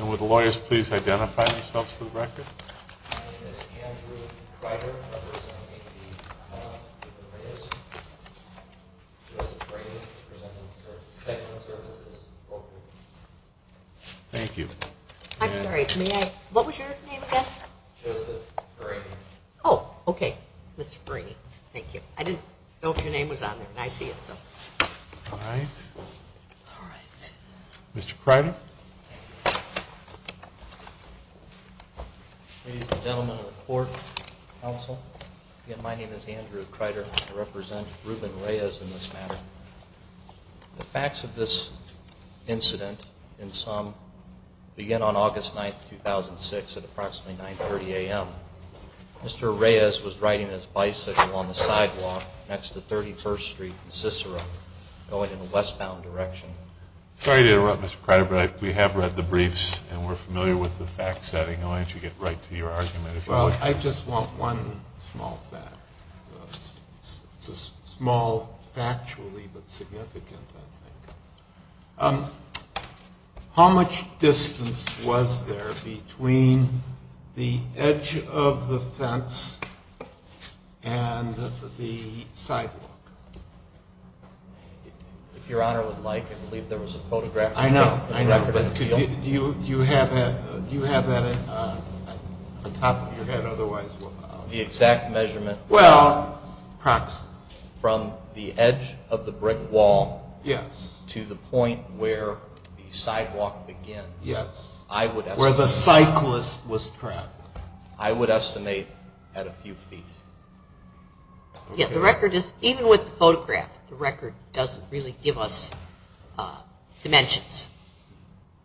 Would the lawyers please identify themselves for the record? My name is Andrew Kreider. I'm a person of APD. I'm with the Reyes. Joseph Franey. I present in the segment of services. Thank you. I'm sorry, may I? What was your name again? Joseph Franey. Oh, okay. Ms. Franey. Thank you. I didn't know if your name was on there, and I see it, so. Mr. Kreider. Ladies and gentlemen of the court, counsel, again, my name is Andrew Kreider. I represent Ruben Reyes in this matter. The facts of this incident in sum begin on August 9, 2006 at approximately 930 a.m. Mr. Reyes was riding his bicycle on the sidewalk next to 31st Street in Cicero going in a westbound direction. Sorry to interrupt, Mr. Kreider, but we have read the briefs and we're familiar with the fact setting. Why don't you get right to your argument? Well, I just want one small fact. It's a small factually, but significant, I think. How much distance was there between the edge of the fence and the sidewalk? If your Honor would like, I believe there was a photograph. I know. Do you have that on the top of your head? The exact measurement? Well, approximately from the edge of the brick wall to the point where the sidewalk begins. Yes. Where the cyclist was trapped. I would estimate at a few feet. Yeah, the record is, even with the photograph, the record doesn't really give us dimensions.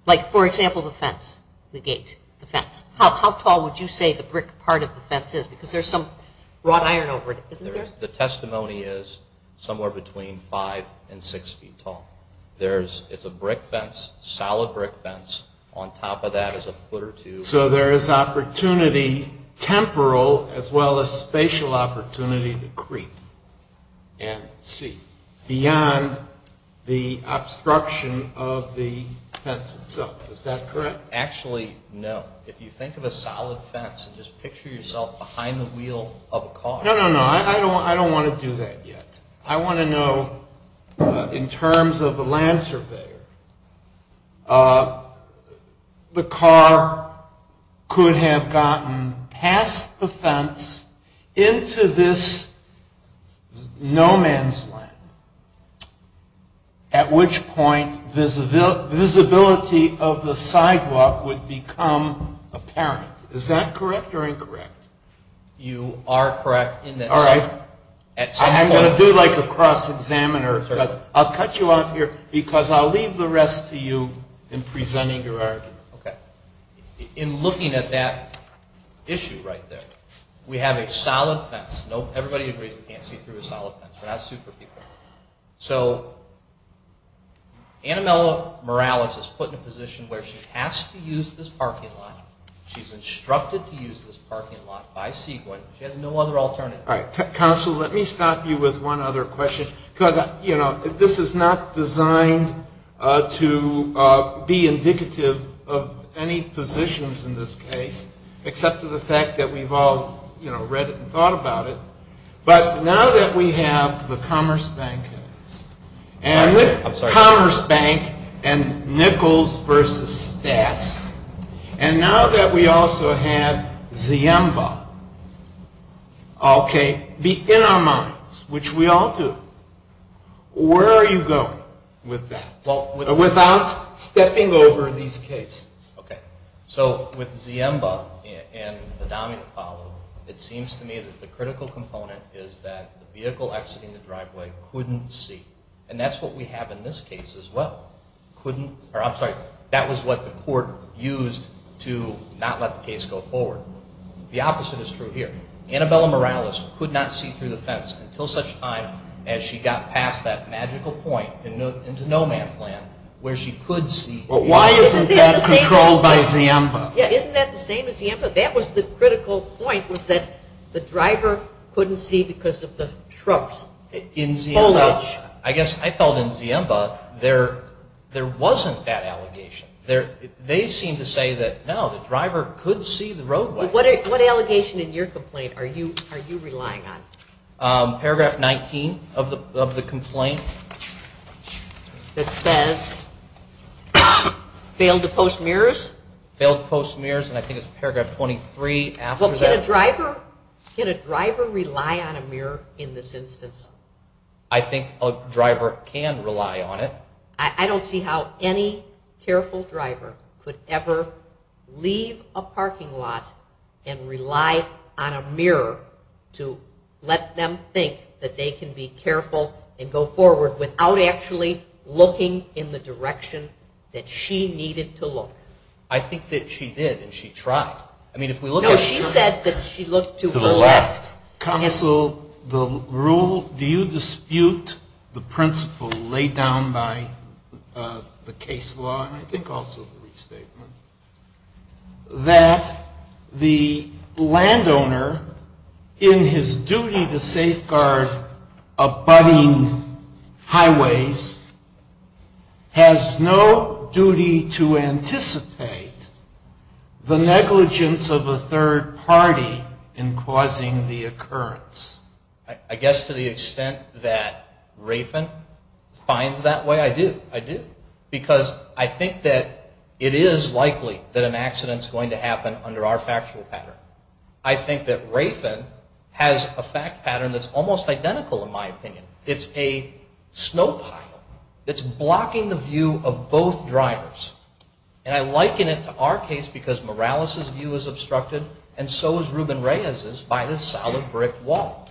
Like, for example, the fence, the gate, the fence. How tall would you say the brick part of the fence is? Because there's some wrought iron over it, isn't there? The testimony is somewhere between five and six feet tall. It's a brick fence, solid brick fence. On top of that is a foot or two. So there is opportunity, temporal as well as spatial opportunity, to creep and see beyond the obstruction of the fence itself. Is that correct? Actually, no. If you think of a solid fence and just picture yourself behind the wheel of a car. No, no, no. I don't want to do that yet. I want to know, in terms of a land surveyor, the car could have gotten past the fence into this no man's land, at which point visibility of the sidewalk would become apparent. Is that correct or incorrect? You are correct in that sense. I'm going to do like a cross-examiner. I'll cut you off here because I'll leave the rest to you in presenting your argument. Okay. In looking at that issue right there, we have a solid fence. Everybody agrees we can't see through a solid fence. But that's superficial. So Anna Mello-Morales is put in a position where she has to use this parking lot. She's instructed to use this parking lot by sequence. She has no other alternative. All right. Counsel, let me stop you with one other question because this is not designed to be indicative of any positions in this case, except for the fact that we've all read it and thought about it. But now that we have the Commerce Bank and Nichols versus Stas, and now that we also have Ziemba in our minds, which we are not stepping over these cases. Okay. So with Ziemba and the dominant follow, it seems to me that the critical component is that the vehicle exiting the driveway couldn't see. And that's what we have in this case as well. That was what the court used to not let the case go forward. The opposite is true here. Anna Mello-Morales could not see through the fence until such time as she got past that magical point into no man's land where she could see. But why isn't that controlled by Ziemba? Yeah, isn't that the same as Ziemba? That was the critical point was that the driver couldn't see because of the trucks. In Ziemba, I guess I felt in Ziemba there wasn't that allegation. They seem to say that no, the driver could see the roadway. What allegation in your complaint are you relying on? Paragraph 19 of the complaint that says failed to post mirrors. Failed to post mirrors, and I think it's paragraph 23. Can a driver rely on a mirror in this instance? I think a driver can rely on it. I don't see how any careful driver could ever leave a parking lot and rely on a mirror to let them think that they can be careful and go forward without actually looking in the direction that she needed to look. I think that she did, and she tried. Now she said that she looked to the left. Counsel, the rule, do you think also the restatement that the landowner in his duty to safeguard abutting highways has no duty to anticipate the negligence of a third party in causing the occurrence? I guess to the extent that I think that it is likely that an accident is going to happen under our factual pattern. I think that Rafen has a fact pattern that's almost identical in my opinion. It's a snow pile that's blocking the view of both drivers. And I liken it to our case because Morales' view is obstructed and so is Ruben Reyes' by this solid brick wall.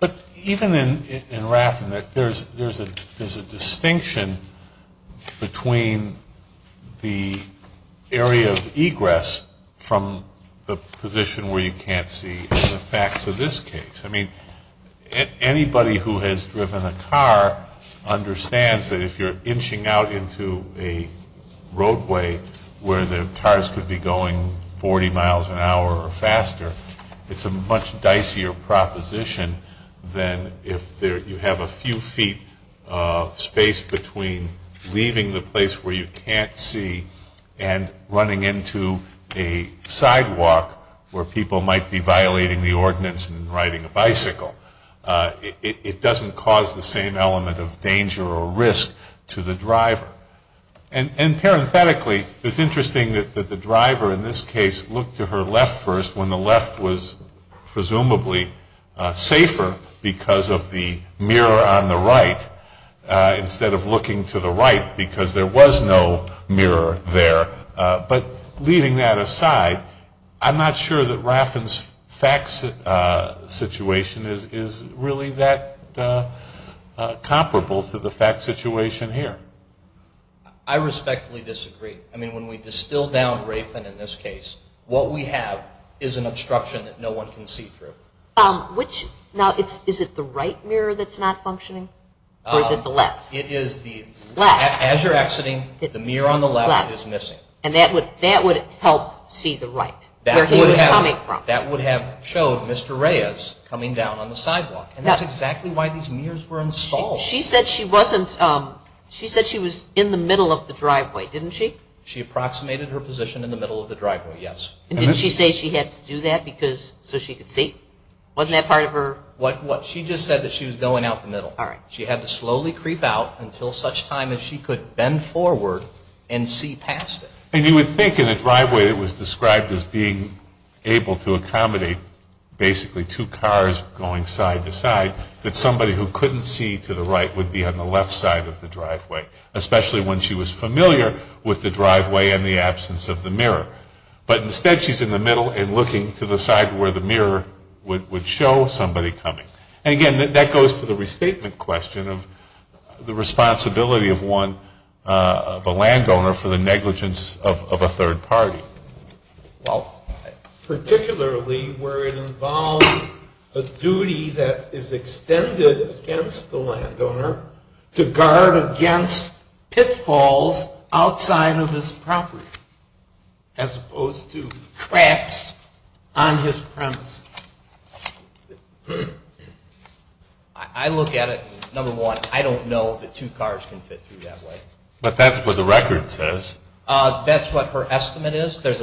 But even in Rafen, there's a distinction between the area of egress from the position where you can't see in the facts of this case. I mean, anybody who has driven a car understands that if you're inching out into a roadway where the cars could be going 40 miles an hour or faster, it's a much dicier proposition than if you have a few feet of space between leaving the place where you can't see and running into a sidewalk where people might be violating the ordinance and riding a bicycle. It doesn't cause the same element of danger or risk to the driver. And parenthetically, it's interesting that the driver in this case looked to her left first when the left was presumably safer because of the mirror on the right instead of looking to the right because there was no mirror there. But leaving that aside, I'm not sure that Rafen's facts situation is really that comparable to the facts situation here. I respectfully disagree. I mean, when we distill down Rafen in this case, what we have is an obstruction that no one can see through. Now, is it the right mirror that's not functioning or is it the left? It is the left. As you're exiting, the mirror on the left is missing. And that would help see the right, where he was coming from. That would have showed Mr. Reyes coming down on the sidewalk. And that's exactly why these mirrors were installed. She said she was in the middle of the driveway, didn't she? She approximated her position in the middle of the driveway, yes. And didn't she say she had to do that so she could see? Wasn't that part of her? What? She just said that she was going out the middle. She had to slowly creep out until such time as she could bend forward and see past it. And you would think in a driveway that was described as being able to accommodate basically two cars going side to side, that somebody who couldn't see to the right would be on the left side of the driveway, especially when she was familiar with the driveway and the absence of the mirror. But instead, she's in the middle and looking to the side where the mirror would show somebody coming. And again, that goes to the restatement question of the responsibility of a landowner for the negligence of a third party. Well, particularly where it involves a duty that is extended against the landowner to guard against pitfalls outside of his property, as opposed to traps on his premise. I look at it, number one, I don't know that two cars can fit through that way. But that's what the record says. That's what her estimate is. But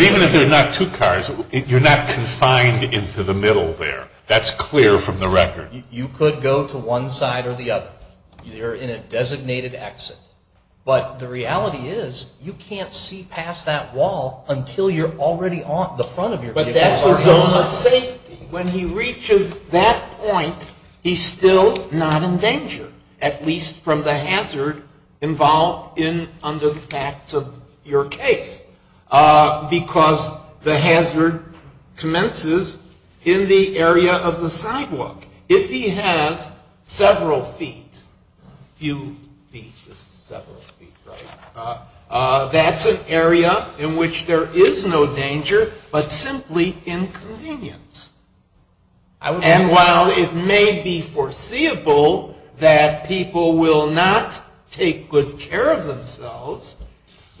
even if there are not two cars, you're not confined into the middle there. That's clear from the record. You could go to one side or the other. You're in a designated exit. But the reality is, you can't see past that wall until you're already on the front of your vehicle. When he reaches that point, he's still not in danger, at least from the hazard involved under the facts of your case. Because the hazard commences in the area of the sidewalk. If he has several feet, that's an area in which there is no danger, but simply inconvenience. And while it may be foreseeable that people will not take good care of themselves,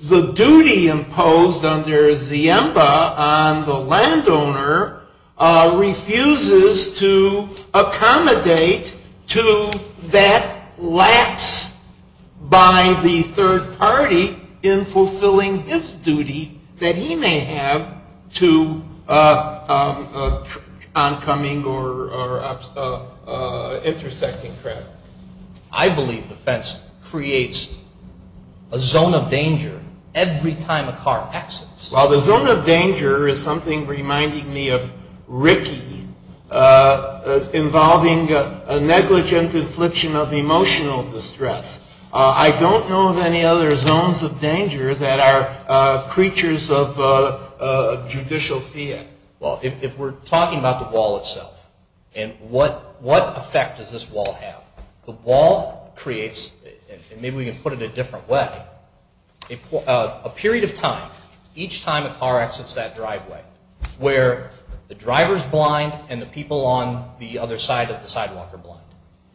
the duty imposed under Ziemba on the landowner refuses to accommodate to that lapse by the third party in fulfilling his duty that he may have to oncoming or intersecting traffic. I believe the fence creates a zone of danger every time a car exits. While the zone of danger is something reminding me of Ricky involving a negligent infliction of emotional distress, I don't know of any other zones of danger that are creatures of judicial fear. Well, if we're talking about the wall itself and what effect does this wall have? The wall creates, and maybe we can put it a different way, a period of time each time a car exits that driveway where the driver's blind and the people on the other side of the sidewalk are blind.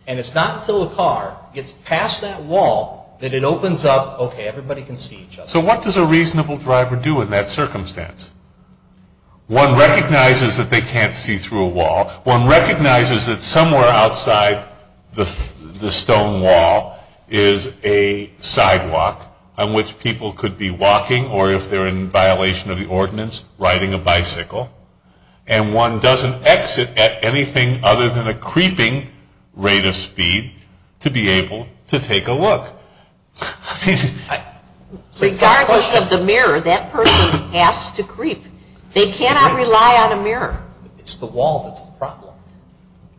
And it's not until a car gets past that wall that it opens up, okay, everybody can see each other. So what does a reasonable driver do in that circumstance? One recognizes that they can't see through a wall. One recognizes that somewhere outside the stone wall is a sidewalk on which people could be walking or if they're in violation of the ordinance, riding a bicycle. And one doesn't exit at anything other than a creeping rate of speed to be able to take a look. Regardless of the mirror, that person has to creep. They cannot rely on a mirror. It's the wall that's the problem.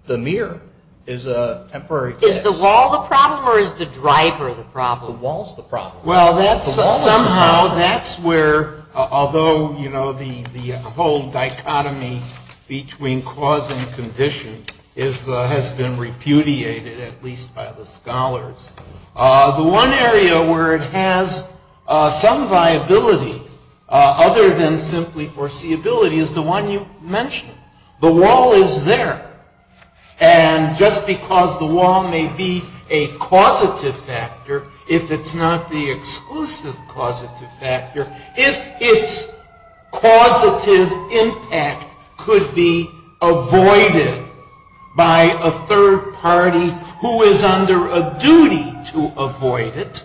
The mirror is a temporary fix. Is the wall the problem or is the driver the problem? The wall's the problem. Well, somehow that's where, although the whole dichotomy between cause and condition has been repudiated, at least by the scholars. The one area where it has some viability other than simply foreseeability is the one you mentioned. The wall is there. And just because the wall may be a causative factor, if it's not the exclusive causative factor, if its causative impact could be avoided by a third party who is under a duty to avoid it,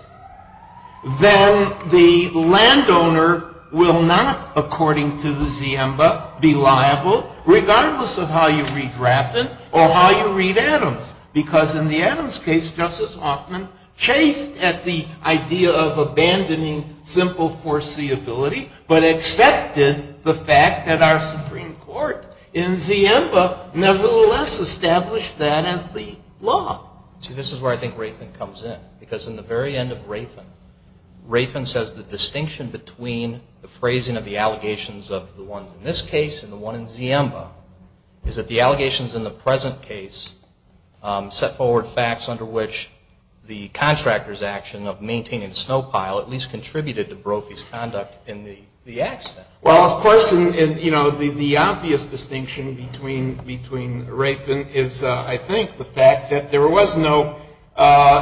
then the landowner will not, according to the Ziemba, be liable, regardless of how you read Raffin or how you read Adams. Because in the Adams case, Justice Hoffman chased at the idea of abandoning simple foreseeability but accepted the fact that our Supreme Court in Ziemba nevertheless established that as the law. See, this is where I think Raffin comes in. Because in the very end of Raffin, Raffin says the distinction between the phrasing of the allegations of the ones in this case and the one in Ziemba is that the allegations in the present case set forward facts under which the defendant is liable. Well, of course, you know, the obvious distinction between Raffin is, I think, the fact that there was no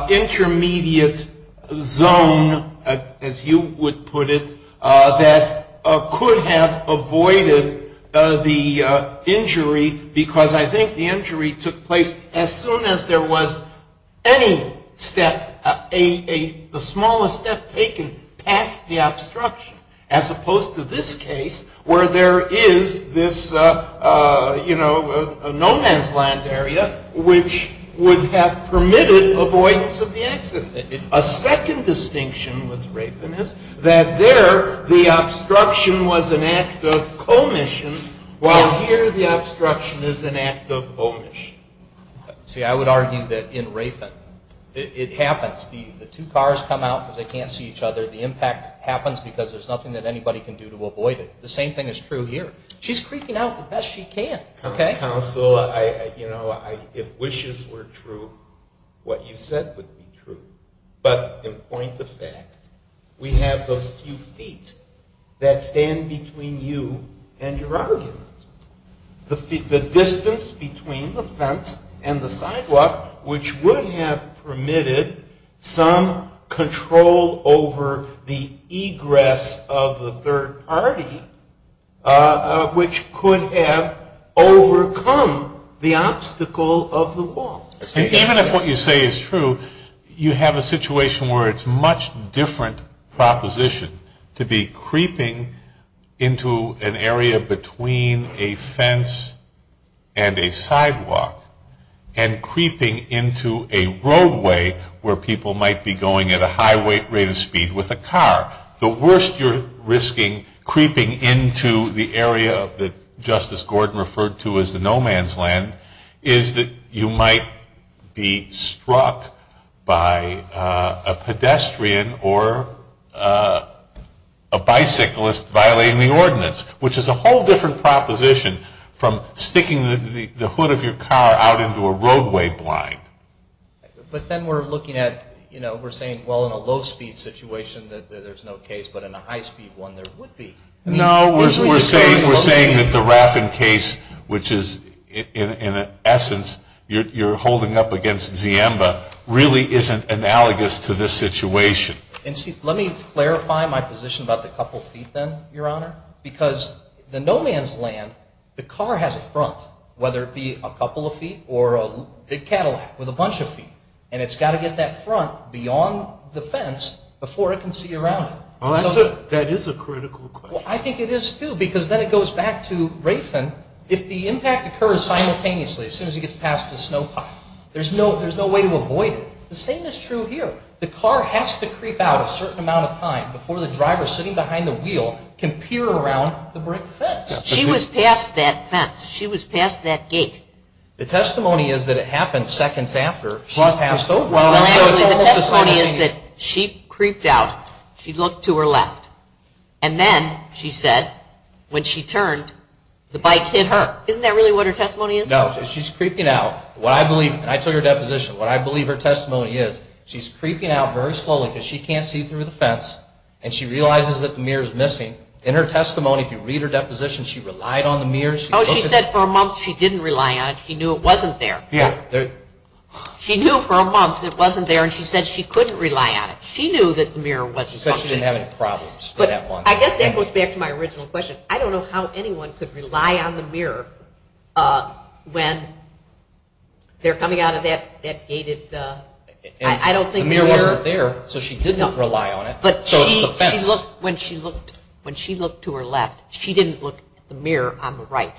intermediate zone, as you would put it, that could have avoided the injury, because I think the injury took place as soon as there was any step, the smallest step taken past the obstruction, as opposed to this case where there is this, you know, no man's land area, which would have permitted avoidance of the accident. A second distinction with Raffin is that there the obstruction was an act of commission, while here the it happens. The two cars come out because they can't see each other. The impact happens because there's nothing that anybody can do to avoid it. The same thing is true here. She's creeping out the best she can. Counsel, you know, if wishes were true, what you said would be true. But in point of fact, we have those few feet that stand between you and your argument. The distance between the fence and the sidewalk, which would have permitted some control over the egress of the third party, which could have overcome the obstacle of the wall. Even if what you say is true, you have a situation where it's a much different proposition to be creeping into an area between a fence and a sidewalk and creeping into a roadway where people might be going at a high rate of speed with a car. The worst you're risking creeping into the area that Justice Gordon referred to as the no man's land is that you might be struck by a pedestrian or a bicyclist violating the ordinance, which is a whole different proposition from sticking the hood of your car out into a roadway blind. But then we're looking at, you know, we're saying, well, in a low speed situation there's no case, but in a high speed one there would be. No, we're saying that the Raffen case, which is in essence, you're holding up against Ziemba, really isn't analogous to this situation. Let me clarify my position about the couple feet then, Your Honor, because the no man's land, the car has a front, whether it be a couple of feet or a big Cadillac with a bunch of feet. And it's got to get that front beyond the fence before it can see around it. Well, that is a critical question. Well, I think it is too, because then it goes back to Raffen. If the impact occurs simultaneously, as soon as it gets past the snow pile, there's no way to avoid it. The same is true here. The car has to creep out a certain amount of time before the driver sitting behind the wheel can peer around the brick fence. She was past that fence. She was past that gate. The testimony is that it happened seconds after she passed over. The testimony is that she creeped out. She looked to her left. And then, she said, when she turned, the bike hit her. Isn't that really what her testimony is? No. She's creeping out. What I believe, and I took her deposition, what I believe her testimony is, she's creeping out very slowly because she can't see through the fence. And she realizes that the mirror's missing. In her testimony, if you read her deposition, she relied on the mirror. Oh, she said for a month she didn't rely on it. She knew it wasn't there. She knew for a month it wasn't there, and she said she couldn't rely on it. She knew that the mirror wasn't functioning. She said she didn't have any problems. I guess that goes back to my original question. I don't know how anyone could rely on the mirror when they're coming out of that gated, I don't think mirror. The mirror wasn't there, so she didn't rely on it. When she looked to her left, she didn't look at the mirror on the right.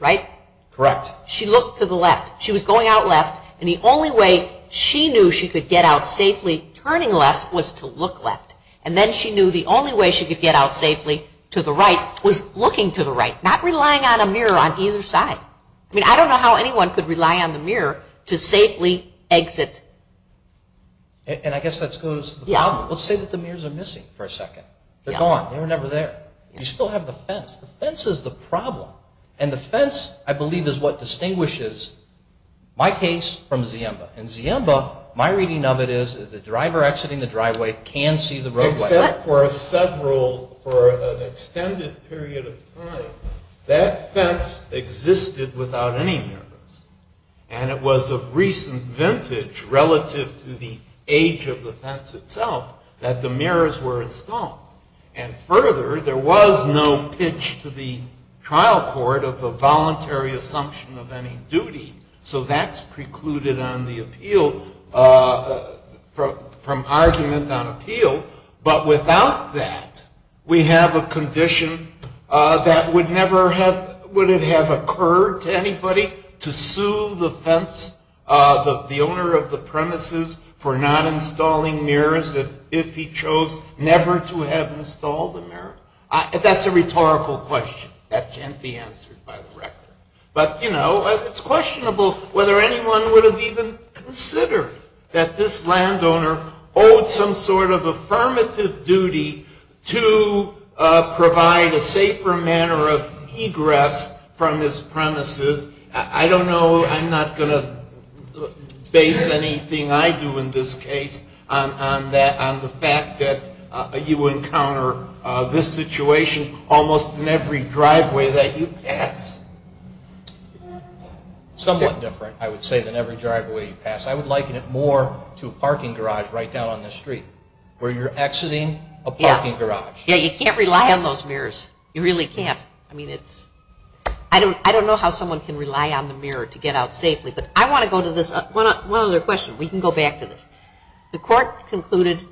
Right? Correct. She looked to the left. She was going out left, and the only way she knew she could get out safely turning left was to look left. And then, she knew the only way she could get out safely to the right was looking to the right, not relying on a mirror on either side. I mean, I don't know how anyone could rely on the mirror to safely exit. And I guess that goes to the problem. Let's say that the mirrors are missing for a second. They're gone. They were never there. You still have the fence. The fence is the problem. And the fence, I believe, is what distinguishes my case from Ziemba. In Ziemba, my reading of it is that the driver exiting the driveway can see the roadway. Except for a several, for an extended period of time, that fence existed without any mirrors. And it was of recent vintage, relative to the age of the fence itself, that the mirrors were installed. And further, there was no pitch to the trial court of the voluntary assumption of any duty. So that's precluded on the appeal, from argument on appeal. But without that, we have a question. Would it have occurred to anybody to sue the owner of the premises for not installing mirrors if he chose never to have installed the mirror? That's a rhetorical question. That can't be answered by the rector. But, you know, it's questionable whether anyone would have even considered that this landowner owed some sort of affirmative duty to provide a safer manner of egress from his premises. I don't know. I'm not going to base anything I do in this case on the fact that you encounter this situation almost in every driveway that you pass. Somewhat different, I would say, than every driveway you pass. I would liken it more to a parking garage right down on the street where you're exiting a parking garage. Yeah, you can't rely on those mirrors. You really can't. I mean, it's I don't know how someone can rely on the mirror to get out safely. But I want to go to this one other question. We can go back to this. The court concluded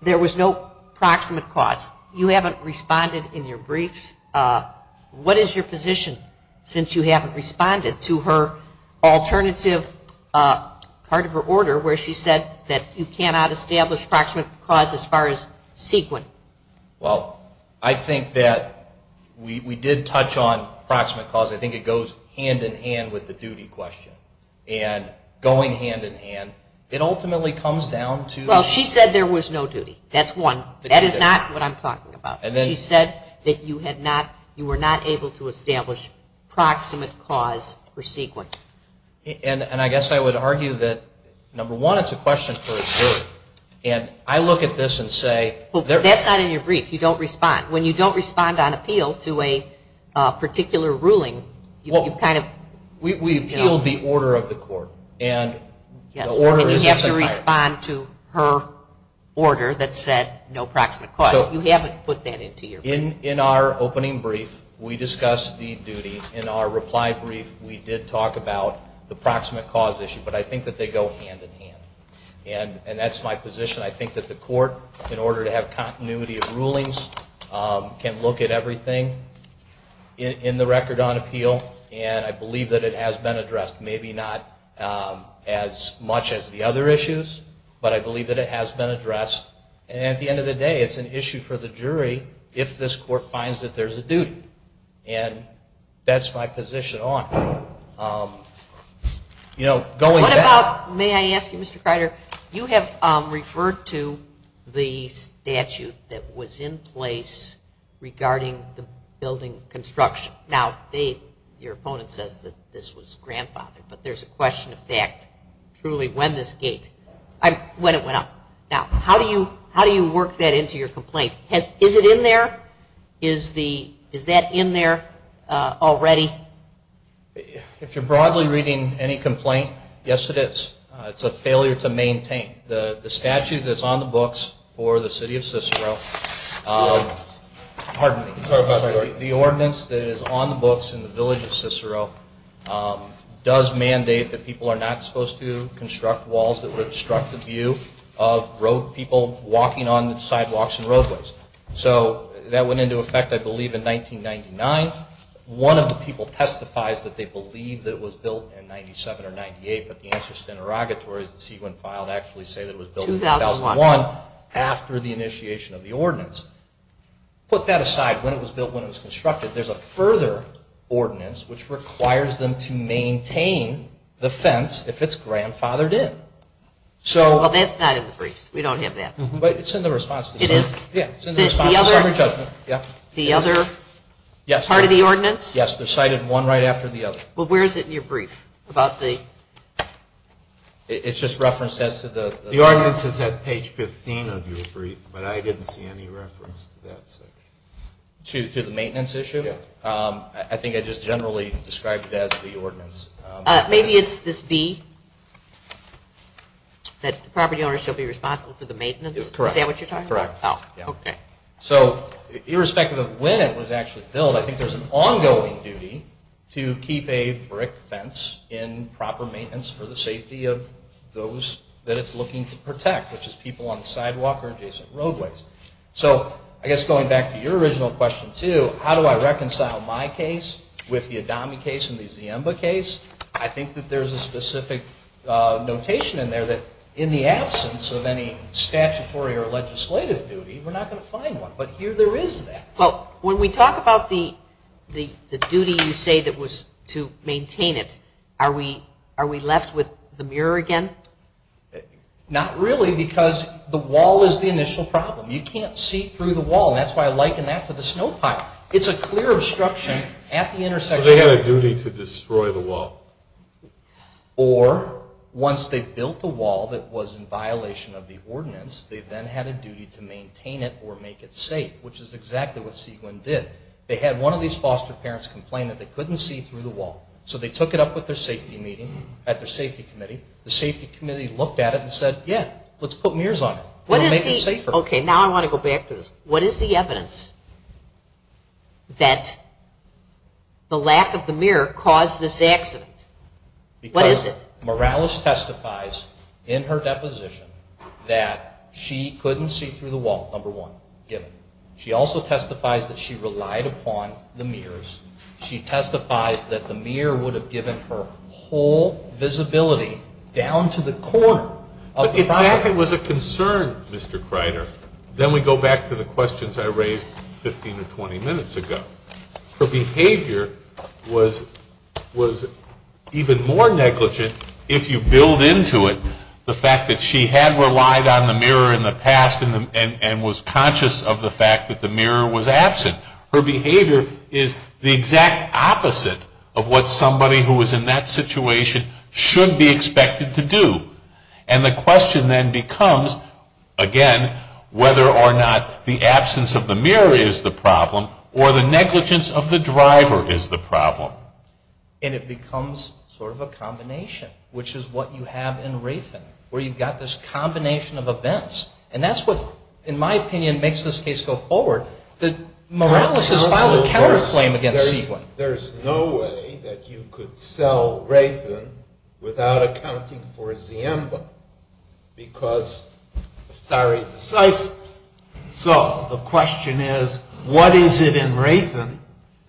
there was no proximate cause. You haven't responded in your brief. What is your position since you haven't responded to her alternative part of her order where she said that you cannot establish proximate cause as far as sequent? Well, I think that we did touch on proximate cause. I think it goes hand in hand with the duty question. And going hand in hand, it ultimately comes down to Well, she said there was no duty. That's one. That is not what I'm talking about. She said that you were not able to establish proximate cause for sequent. And I guess I would argue that number one, it's a question for a jury. And I look at this and say That's not in your brief. You don't respond. When you don't respond on appeal to a particular ruling, you've kind of We appealed the order of the court. You have to respond to her order that said no proximate cause. You haven't put that into your brief. In our opening brief, we discussed the duty. In our reply brief, we did talk about the proximate cause issue. But I think that they go hand in hand. And that's my position. I think that the court, in order to have on appeal. And I believe that it has been addressed. Maybe not as much as the other issues. But I believe that it has been addressed. And at the end of the day, it's an issue for the jury if this court finds that there's a duty. And that's my position on it. May I ask you, Mr. Kreider, you have referred to the statute that was in place regarding the building construction. Now your opponent says that this was grandfathered. But there's a question of fact. Truly, when it went up. Now, how do you work that into your complaint? Is it in there? Is that in there already? If you're broadly reading any complaint, yes it is. It's a failure to maintain. The statute that's on the books for the city of Cicero pardon me, the ordinance that is on the books in the village of Cicero does mandate that people are not supposed to construct walls that would obstruct the view of people walking on the sidewalks and roadways. So that went into effect, I believe, in 1999. One of the people testifies that they believe that it was built in 97 or 98, but the answer is interrogatory. The CUN filed actually say that it was built in 2001 after the initiation of the ordinance. Put that aside. When it was built, when it was constructed, there's a further ordinance which requires them to maintain the fence if it's grandfathered in. Well, that's not in the briefs. We don't have that. But it's in the response to summary judgment. The other part of the ordinance? Yes, they're cited one right after the other. But where is it in your brief? It's just referenced as to the... The ordinance is at page 15 of your brief, but I didn't see any reference to that section. To the maintenance issue? I think I just generally described it as the ordinance. Maybe it's this B, that the property owner shall be responsible for the maintenance? Is that what you're talking about? Correct. So irrespective of when it was actually built, I think there's an ongoing duty to keep a brick fence in proper maintenance for the safety of those that it's looking to protect, which is people on the sidewalk or adjacent roadways. So I guess going back to your original question, too, how do I reconcile my case with the Adami case and the Ziemba case? I think that there's a specific notation in there that in the absence of any statutory or legislative duty, we're not going to find one. But here there is that. Well, when we talk about the duty you say that was to maintain it, are we left with the mirror again? Not really, because the wall is the initial problem. You can't see through the wall, and that's why I liken that to the snow pile. It's a clear obstruction at the intersection. So they had a duty to destroy the wall? Or once they built the wall that was in violation of the ordinance, they then had a duty to maintain it or make it safe, which is exactly what Seguin did. They had one of these foster parents complain that they couldn't see through the wall. So they took it up at their safety meeting, at their safety committee. The safety committee looked at it and said, yeah, let's put mirrors on it. We'll make it safer. Okay, now I want to go back to this. What is the evidence that the lack of the mirror caused this accident? What is it? Morales testifies in her deposition that she couldn't see through the wall, number one, given. She also testifies that she relied upon the mirrors. She testifies that the mirror would have given her whole visibility down to the corner. But if that was a concern, Mr. Kreider, then we go back to the questions I raised 15 or 20 minutes ago. Her behavior was even more negligent if you build into it the fact that she had relied on the mirror in the past and was conscious of the fact that the mirror was absent. Her behavior is the exact opposite of what somebody who was in that situation should be expected to do. And the question then becomes, again, whether or not the absence of the mirror is the problem or the negligence of the driver is the problem. And it becomes sort of a combination, which is what you have in Raytheon, where you've got this combination of events. And that's what, in my opinion, makes this case go forward. That Morales has filed a counter claim against Sequin. There's no way that you could sell Raytheon without accounting for Ziemba because of stare decisis. So the question is, what is it in Raytheon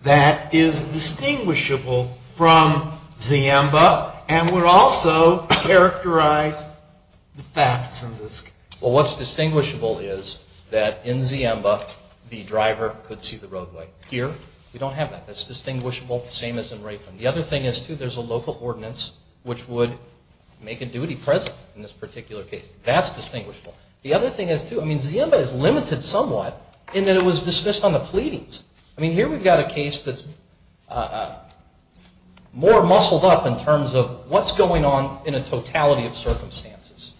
that is distinguishable from Ziemba and would also characterize the facts of this case? Well, what's distinguishable is that in Ziemba the driver could see the roadway. Here, we don't have that. That's distinguishable, same as in Raytheon. The other thing is, too, there's a local ordinance which would make a duty present in this particular case. That's distinguishable. The other thing is, too, I mean, Ziemba is limited somewhat in that it was dismissed on the pleadings. I mean, here we've got a case that's more muscled up in terms of what's going on in a totality of circumstances.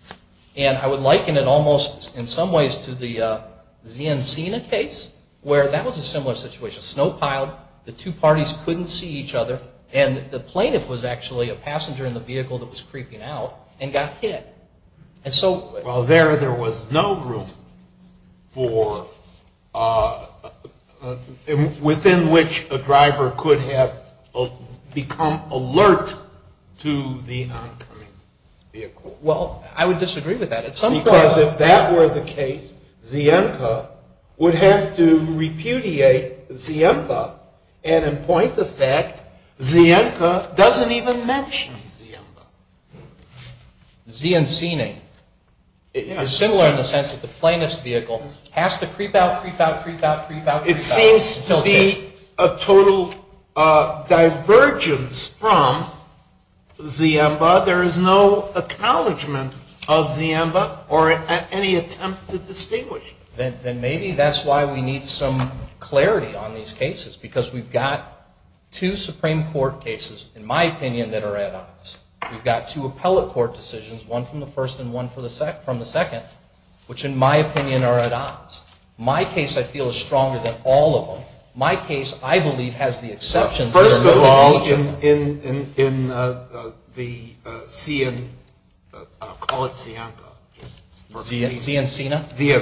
And I would liken it almost in some ways to the Ziencena case, where that was a similar situation. Snow piled, the two parties couldn't see each other, and the plaintiff was actually a passenger in the vehicle that was creeping out and got hit. Well, there was no room within which a driver could have become alert to the oncoming vehicle. Well, I would disagree with that. Because if that were the case, Zienca would have to repudiate Ziemba. And in point of fact, Zienca doesn't even mention Ziemba. It's similar in the sense that the plaintiff's vehicle has to creep out, creep out, creep out, creep out. It seems to be a total divergence from Ziemba or any attempt to distinguish. Then maybe that's why we need some clarity on these cases, because we've got two Supreme Court cases, in my opinion, that are at odds. We've got two appellate court decisions, one from the first and one from the second, which in my opinion are at odds. My case, I feel, is stronger than all of them. My case, I believe, has the exceptions. First of all, in Ziencina, the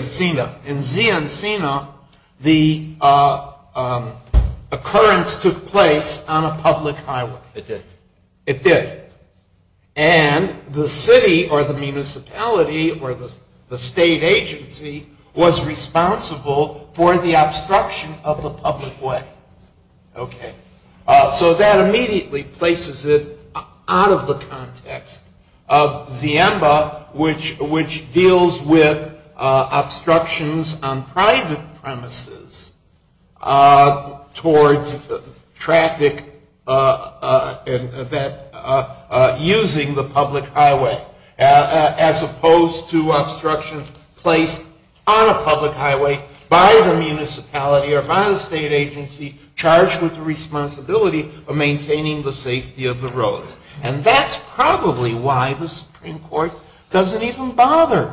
occurrence took place on a public highway. It did. And the city or the municipality or the state agency was responsible for the obstruction of the public way. So that immediately places it out of the context of Ziemba, which deals with obstructions on private premises towards traffic using the public highway, as opposed to obstruction placed on a public highway by the municipality or by the state agency charged with the responsibility of maintaining the safety of the roads. And that's probably why the Supreme Court doesn't even bother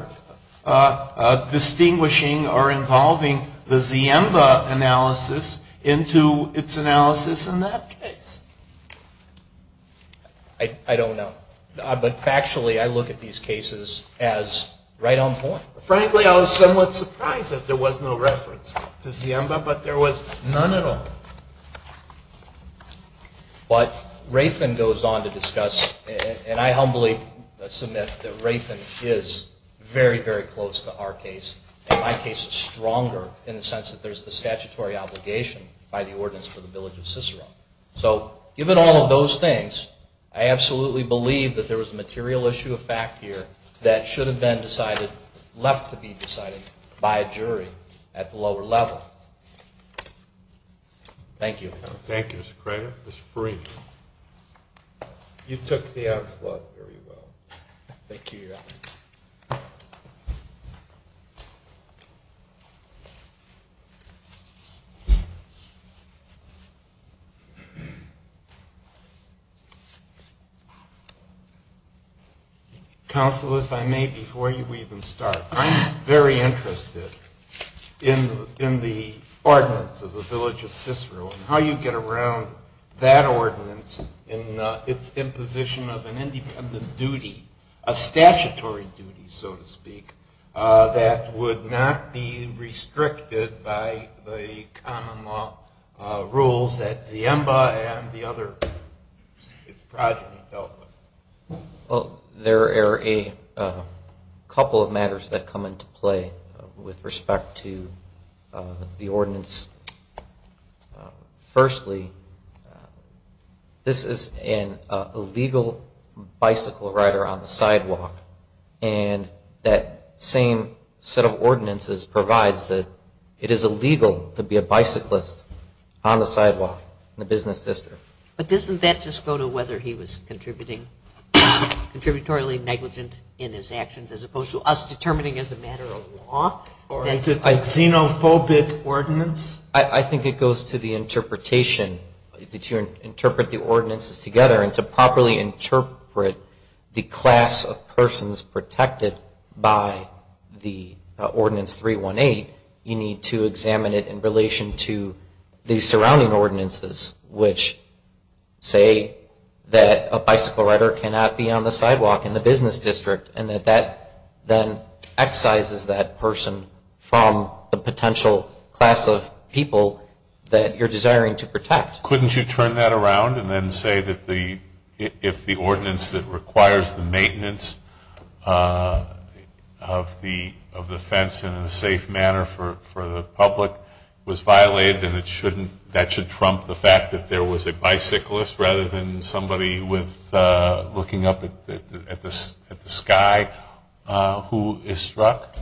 distinguishing or involving the Ziemba analysis into its analysis in that case. I don't know. But factually, I look at these cases as right on point. Frankly, I was somewhat surprised that there was no reference to Ziemba, but there was none at all. But Rafen goes on to discuss, and I humbly submit that Rafen is very, very close to our case, and my case is stronger in the sense that there's the statutory obligation by the ordinance for the village of Cicero. So given all of those things, I absolutely believe that there was a material issue of fact here that should have been decided, left to be decided by a jury at the lower level. Thank you. You took the onslaught very well. Thank you, Your Honor. Counsel, if I may, before you even start, I'm very interested in the ordinance of the village of Cicero and how you get around that ordinance and its imposition of an independent duty, a statutory duty, so to speak, that would not be restricted by the common law rules that Ziemba and the other projects dealt with. There are a couple of matters that come into play with respect to the ordinance. Firstly, this is an illegal bicycle rider on the sidewalk, and that same set of ordinances provides that it is illegal to be a bicyclist on the sidewalk in the business district. But doesn't that just go to whether he was contributory negligent in his actions as opposed to us determining as a matter of law? A xenophobic ordinance? I think it goes to the interpretation, that you interpret the ordinances together, and to properly interpret the class of persons protected by the ordinance 318, you need to examine it in relation to the surrounding ordinances, which say that a bicycle rider cannot be on the sidewalk in the business district, and that that then excises that person from the potential class of people that you're desiring to protect. Couldn't you turn that around and then say that if the ordinance that requires the maintenance of the fence in a safe manner for the public was violated, then that should trump the fact that there was a bicyclist rather than somebody looking up at the sky who is struck?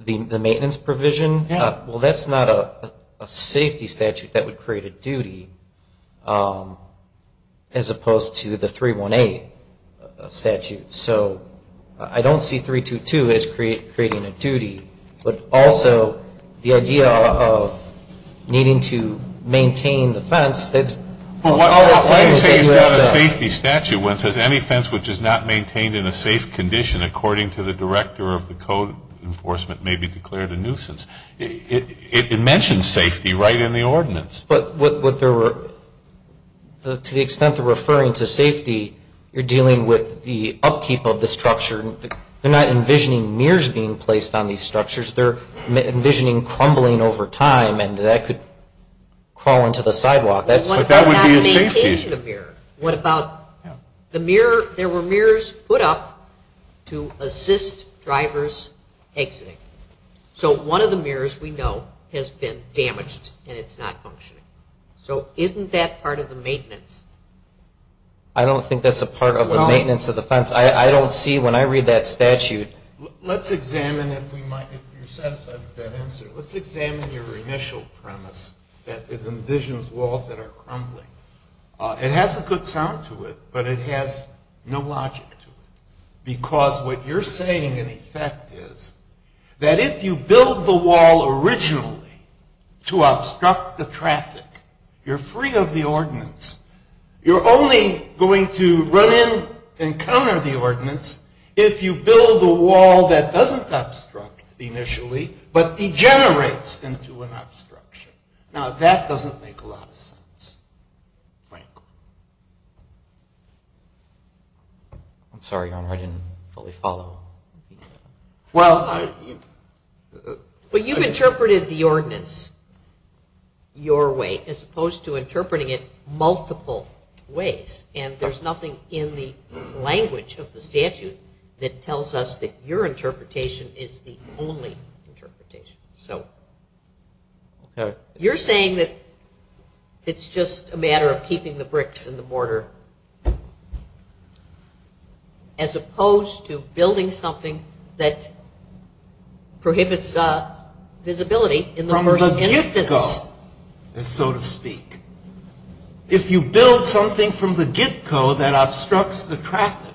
The maintenance provision? Well, that's not a safety statute that would create a duty as opposed to the 318 statute. So I don't see 322 as creating a duty, but also the idea of needing to maintain the fence, that's all it's saying is that you have to. Well, let me say it's not a safety statute when it says any fence which is not maintained in a safe condition according to the director of the code enforcement may be declared a nuisance. It mentions safety right in the ordinance. But to the extent they're referring to safety, you're dealing with the upkeep of the structure. They're not envisioning mirrors being placed on these structures. They're envisioning crumbling over time, and that could crawl into the sidewalk. But that would be a safety. What about changing the mirror? There were mirrors put up to assist drivers exiting. So one of the mirrors we know has been damaged and it's not functioning. So isn't that part of the maintenance? I don't think that's a part of the maintenance of the fence. I don't see when I read that statute. Let's examine if you're satisfied with that answer. Let's examine your initial premise that it envisions walls that are crumbling. It has a good sound to it, but it has no logic to it. Because what you're saying in effect is that if you build the wall originally to obstruct the traffic, you're free of the ordinance. You're only going to run in and counter the ordinance if you build a wall that doesn't obstruct initially, but degenerates into an obstruction. Now, that doesn't make a lot of sense, frankly. I'm sorry, Your Honor, I didn't fully follow. Well, I... Well, you've interpreted the ordinance your way as opposed to interpreting it multiple ways, and there's nothing in the language of the statute that tells us that your interpretation is the only interpretation. You're saying that it's just a matter of keeping the bricks and the mortar as opposed to building something that prohibits visibility in the first instance. From the get-go, so to speak. If you build something from the get-go that obstructs the traffic,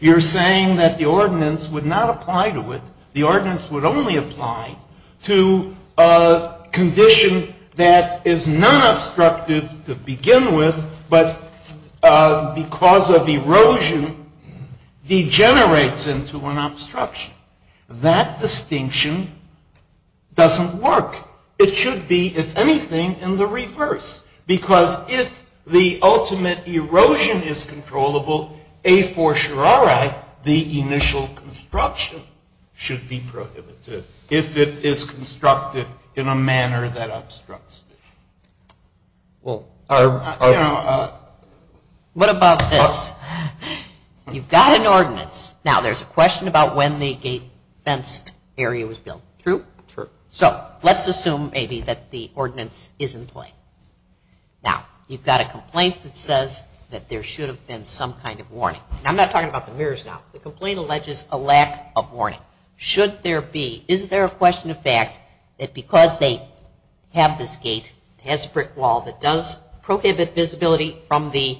you're saying that the ordinance would not apply to it, the ordinance would only apply to a wall that, because of erosion, degenerates into an obstruction. That distinction doesn't work. It should be, if anything, in the reverse, because if the ultimate erosion is controllable, a for surari, the initial construction should be prohibited, if it is constructed in a manner that obstructs it. What about this? You've got an ordinance. Now, there's a question about when the gate-fenced area was built. True? True. So, let's assume, maybe, that the ordinance is in play. Now, you've got a complaint that says that there should have been some kind of warning. I'm not talking about the mirrors now. The complaint alleges a lack of warning. Now, should there be, is there a question of fact that because they have this gate, it has a brick wall, that does prohibit visibility from the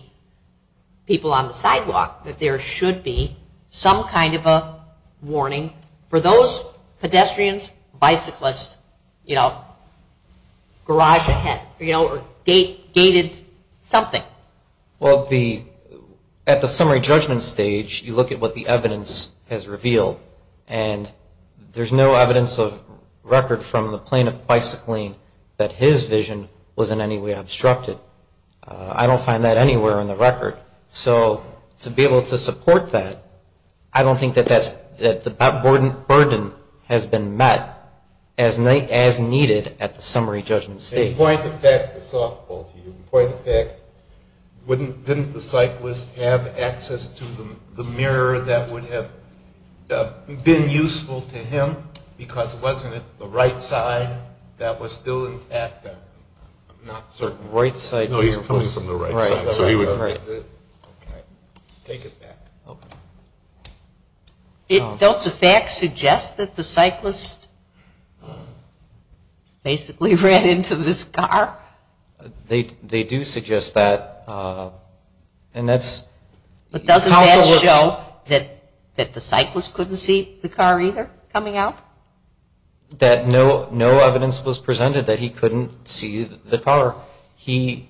people on the sidewalk, that there should be some kind of a warning for those pedestrians, bicyclists, you know, garage ahead, you know, or gated something? Well, at the summary judgment stage, you look at what the evidence has revealed, and there's no evidence of record from the plaintiff bicycling that his vision was in any way obstructed. I don't find that anywhere in the record. So, to be able to support that, I don't think that the burden has been met as needed at the summary judgment stage. Point of fact, didn't the cyclist have access to the mirror that would have been useful to him, because wasn't it the right side that was still intact? I'm not certain. Right side. No, he's coming from the right side. Don't the facts suggest that the cyclist basically ran into this car? They do suggest that. But doesn't that show that the cyclist couldn't see the car either coming out? That no evidence was presented that he couldn't see the car. He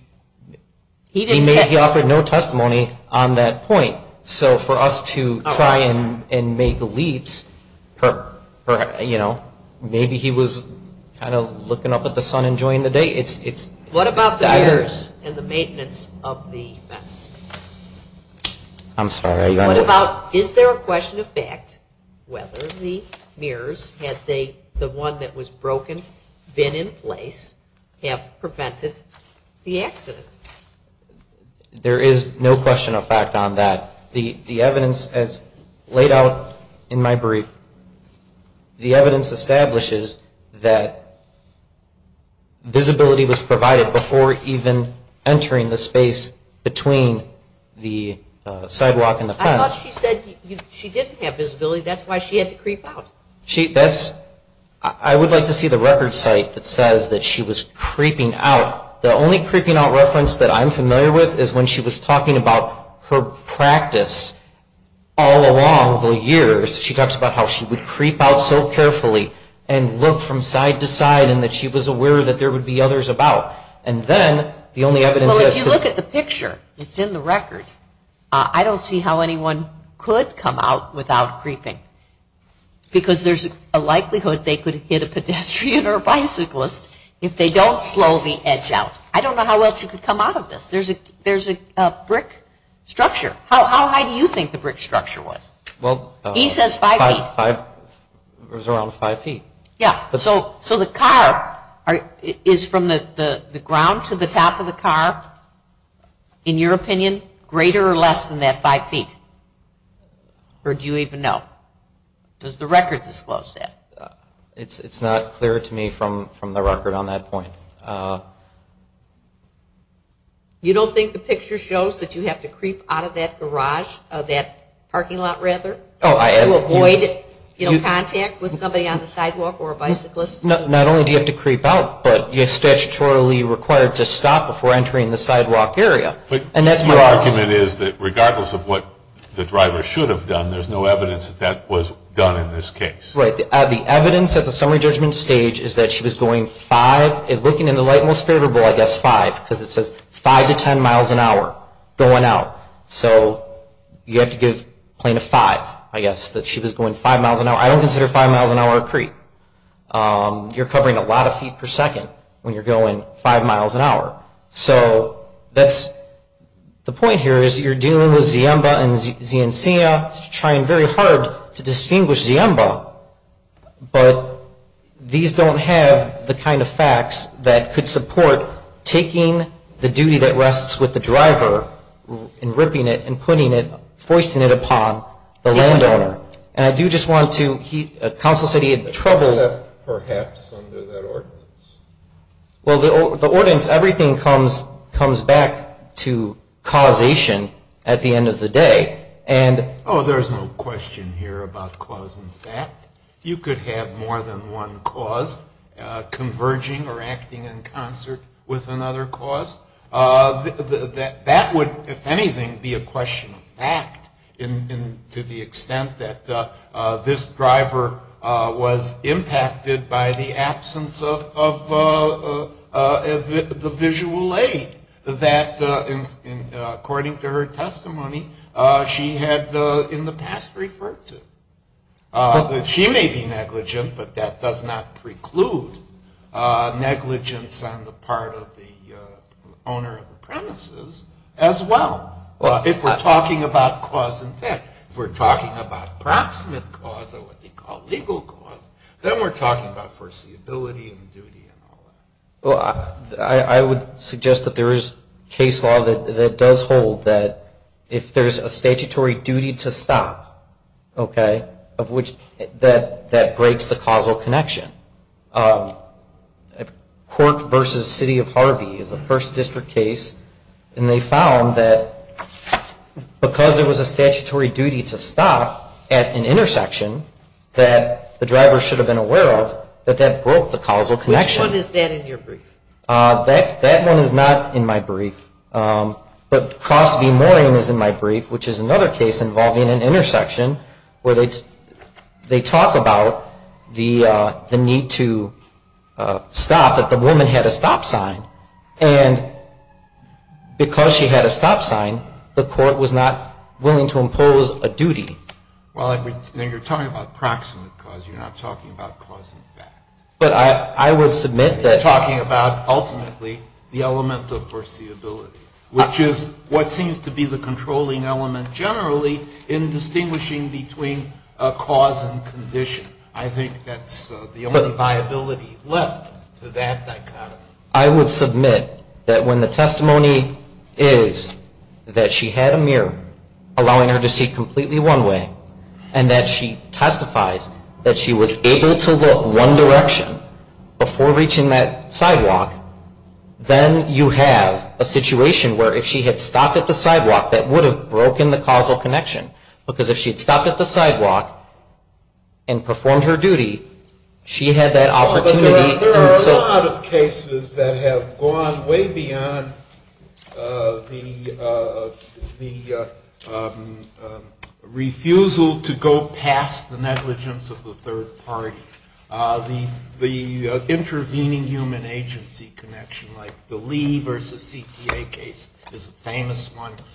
offered no testimony on that point. So for us to try and make leaps, you know, maybe he was kind of looking up at the sun enjoying the day. What about the mirrors and the maintenance of the vets? I'm sorry. Is there a question of fact whether the mirrors, had the one that was broken been in place, have prevented the accident? There is no question of fact on that. The evidence as laid out in my brief, the evidence establishes that visibility was provided before even entering the space between the sidewalk and the fence. I thought she said she didn't have visibility. That's why she had to creep out. I would like to see the record site that says that she was creeping out. The only creeping out reference that I'm familiar with is when she was talking about her practice all along the years. She talks about how she would creep out so carefully and look from side to side and that she was aware that there would be others about. Well, if you look at the picture, it's in the record. I don't see how anyone could come out without creeping because there's a likelihood they could hit a pedestrian or a bicyclist if they don't slow the edge out. I don't know how else you could come out of this. There's a brick structure. How high do you think the brick structure was? He says five feet. It was around five feet. So the car is from the ground to the top of the car, in your opinion, greater or less than that five feet? Or do you even know? Does the record disclose that? It's not clear to me from the record on that point. You don't think the picture shows that you have to creep out of that garage, that parking lot rather, to avoid contact with somebody on the sidewalk or a bicyclist? Not only do you have to creep out, but you're statutorily required to stop before entering the sidewalk area. But your argument is that regardless of what the driver should have done, there's no evidence that that was done in this case. The evidence at the summary judgment stage is that she was going five, looking in the light most favorable, I guess five, because it says five to ten miles an hour going out. So you have to give plaintiff five, I guess, that she was going five miles an hour. I don't consider five miles an hour a creep. You're covering a lot of feet per second when you're going five miles an hour. So that's the point here is that you're dealing with Ziemba and Ziencia, trying very hard to distinguish Ziemba. But these don't have the kind of facts that could support taking the duty that rests with the driver and ripping it and putting it, foisting it upon the landowner. And I do just want to, counsel said he had trouble. Except perhaps under that ordinance. Well, the ordinance, everything comes back to causation at the end of the day. Oh, there's no question here about cause and fact. You could have more than one cause converging or acting in concert with another cause. That would, if anything, be a question of fact to the extent that this driver was impacted by the absence of the visual aid that, according to her testimony, she had in the past referred to. She may be negligent, but that does not preclude negligence on the part of the owner of the premises as well. If we're talking about cause and fact, if we're talking about proximate cause, or what they call legal cause, then we're talking about foreseeability and duty and all that. Well, I would suggest that there is case law that does hold that if there's a statutory duty to stop, okay, that breaks the causal connection. Court v. City of Harvey is a First District case, and they found that because there was a statutory duty to stop at an intersection that the driver should have been aware of, that that broke the causal connection. Which one is that in your brief? That one is not in my brief, but Cross v. Mooring is in my brief, which is another case involving an intersection where they talk about the need to stop, that the woman had a stop sign. And because she had a stop sign, the court was not willing to impose a duty. Well, then you're talking about proximate cause. You're not talking about cause and fact. You're talking about ultimately the element of foreseeability, which is what seems to be the controlling element generally in distinguishing between a cause and condition. I think that's the only viability left to that dichotomy. I would submit that when the testimony is that she had a mirror allowing her to see completely one way, and that she testifies that she was able to look one direction before reaching that sidewalk, then you have a situation where if she had stopped at the sidewalk, that would have broken the causal connection, because if she had stopped at the sidewalk and performed her duty, she had that opportunity. There are a lot of cases that have gone way beyond the refusal to go past the negligence of the third party. The intervening human agency connection, like the Lee v. O'Connor case, where you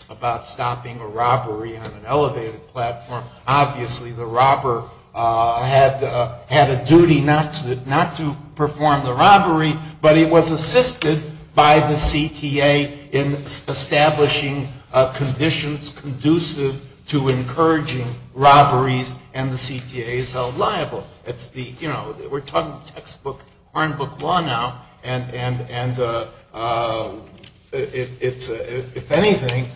have a robbery on an elevated platform, obviously the robber had a duty not to perform the robbery, but he was assisted by the CTA in establishing conditions conducive to encouraging robberies, and the CTA is held liable. You know, we're talking textbook, hard book law now, and it's, if anything,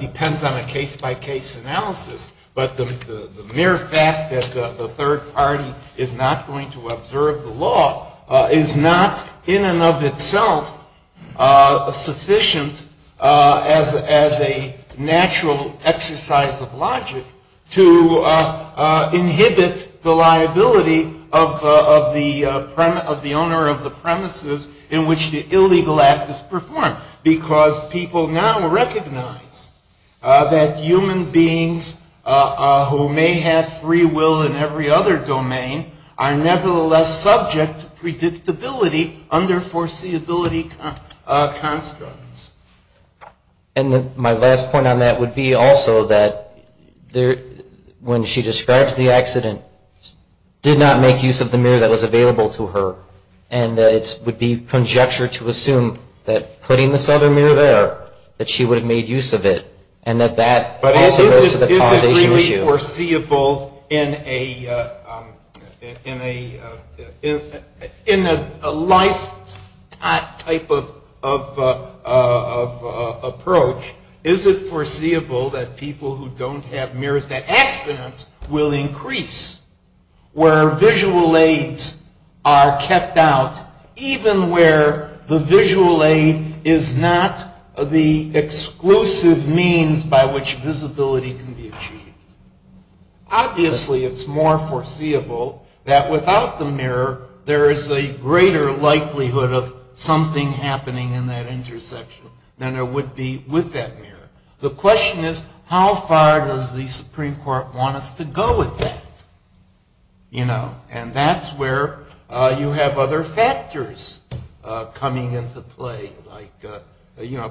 depends on a case-by-case analysis, but the mere fact that the third party is not going to observe the law is not in and of itself sufficient as a natural exercise of logic to inhibit the liability of the owner of the premises in which the illegal act is performed, because people now recognize that human beings who may have free will in every other domain are nevertheless subject to predictability under foreseeability constructs. And my last point on that would be also that when she describes the accident, did not make use of the mirror that was available to her, and that it would be conjecture to assume that putting this other mirror there, that she would have made use of it, and that that also goes to the causation issue. But is it really foreseeable in a life type of approach, is it foreseeable that people who don't have mirrors, that accidents will increase where visual aids are kept out, even where the visual aid is not the exclusive means by which visibility can be achieved? Obviously, it's more foreseeable that without the mirror, there is a greater likelihood of something happening in that intersection than there would be with that mirror. The question is, how far does the Supreme Court want us to go with that? And that's where you have other factors coming into play, like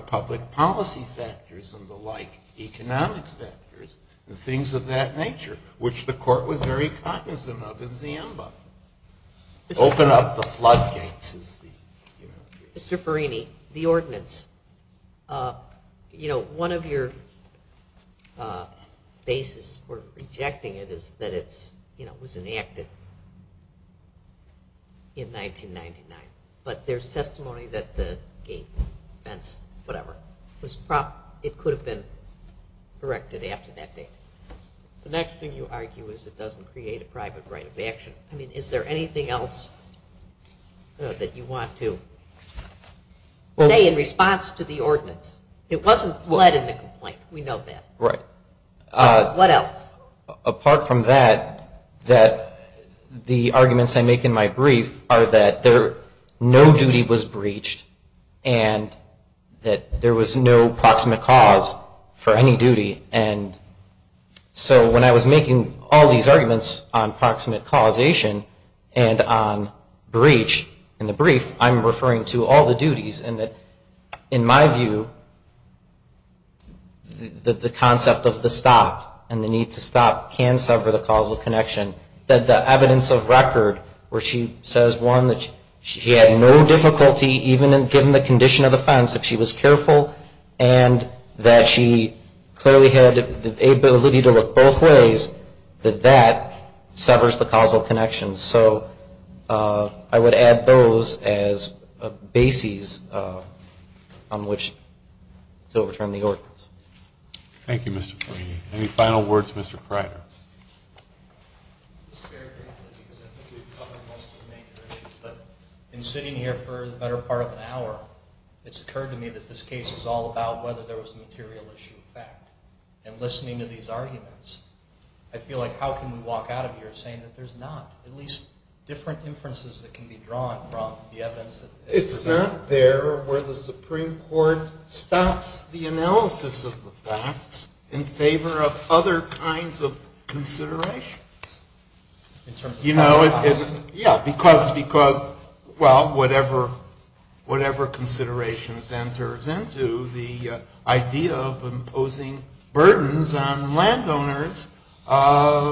public policy factors and the like, economic factors, and things of that nature, which the court was very cognizant of in Zimbabwe. Open up the floodgates. Mr. Farini, the ordinance. One of your basis for rejecting it is that it was enacted in 1999, but there's testimony that the gate, fence, whatever, it could have been erected after that date. The next thing you argue is it doesn't create a private right of action. Is there anything else that you want to say in response to the ordinance? It wasn't led in the complaint, we know that. What else? Apart from that, the arguments I make in my brief are that no duty was breached and that there was no proximate cause for any duty. So when I was making all these arguments on proximate causation and on breach in the brief, I'm referring to all the duties. And in my view, the concept of the stop and the need to stop can sever the causal connection. The evidence of record where she says, one, that she had no difficulty, even given the condition of the fence, that she was careful, and that she clearly had the ability to look both ways, that that severs the causal connection. So I would add those as bases on which to overturn the ordinance. Thank you, Mr. Perini. Any final words, Mr. Kreider? In sitting here for the better part of an hour, it's occurred to me that this case is all about whether there was a material issue of fact. And listening to these arguments, I feel like how can we walk out of here saying that there's not at least different inferences that can be drawn from the evidence? It's not there where the Supreme Court stops the analysis of the facts in favor of other kinds of considerations. Yeah, because, well, whatever considerations enters into the idea of imposing burdens on landowners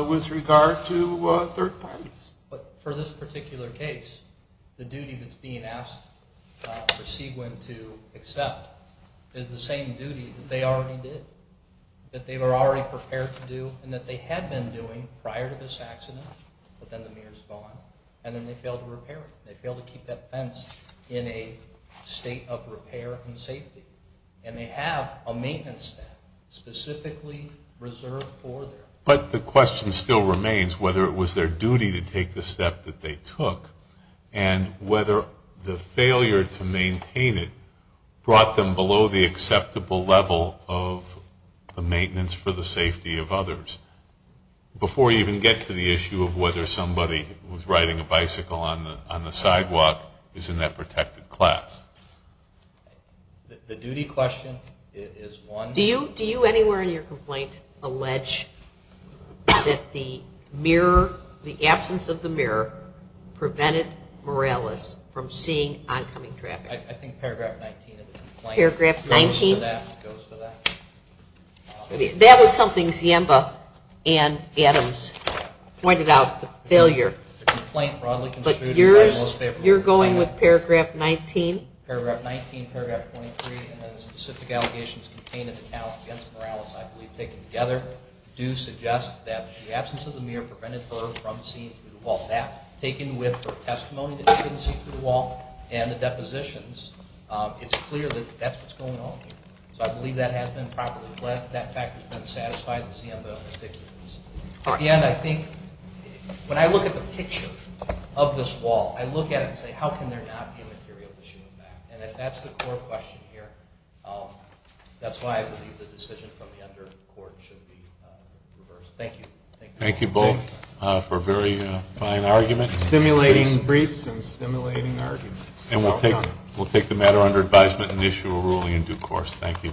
with regard to third parties. But for this particular case, the duty that's being asked for Seguin to accept is the same duty that they already did, that they were already prepared to do, and that they had been doing prior to this accident, but then the mayor's gone, and then they failed to repair it. They failed to keep that fence in a state of repair and safety. And they have a maintenance step specifically reserved for them. But the question still remains whether it was their duty to take the step that they took and whether the failure to maintain it brought them below the acceptable level of the maintenance for the safety of others. Before you even get to the issue of whether somebody was riding a bicycle on the sidewalk is in that protected class. The duty question is one... Do you anywhere in your complaint allege that the absence of the mirror prevented Morales from seeing oncoming traffic? I think paragraph 19 of the complaint goes for that. That was something Ziemba and Adams pointed out, the failure. But yours, you're going with paragraph 19? Paragraph 19, paragraph 23, and the specific allegations contained in the account against Morales, I believe taken together, do suggest that the absence of the mirror prevented her from seeing through the wall. That, taken with her testimony that she didn't see through the wall and the depositions, it's clear that that's what's going on here. So I believe that has been properly left. When I look at the picture of this wall, I look at it and say, how can there not be a material issue with that? And if that's the core question here, that's why I believe the decision from the undercourt should be reversed. Thank you both for a very fine argument. Stimulating briefs and stimulating arguments. And we'll take the matter under advisement and issue a ruling in due course. Thank you.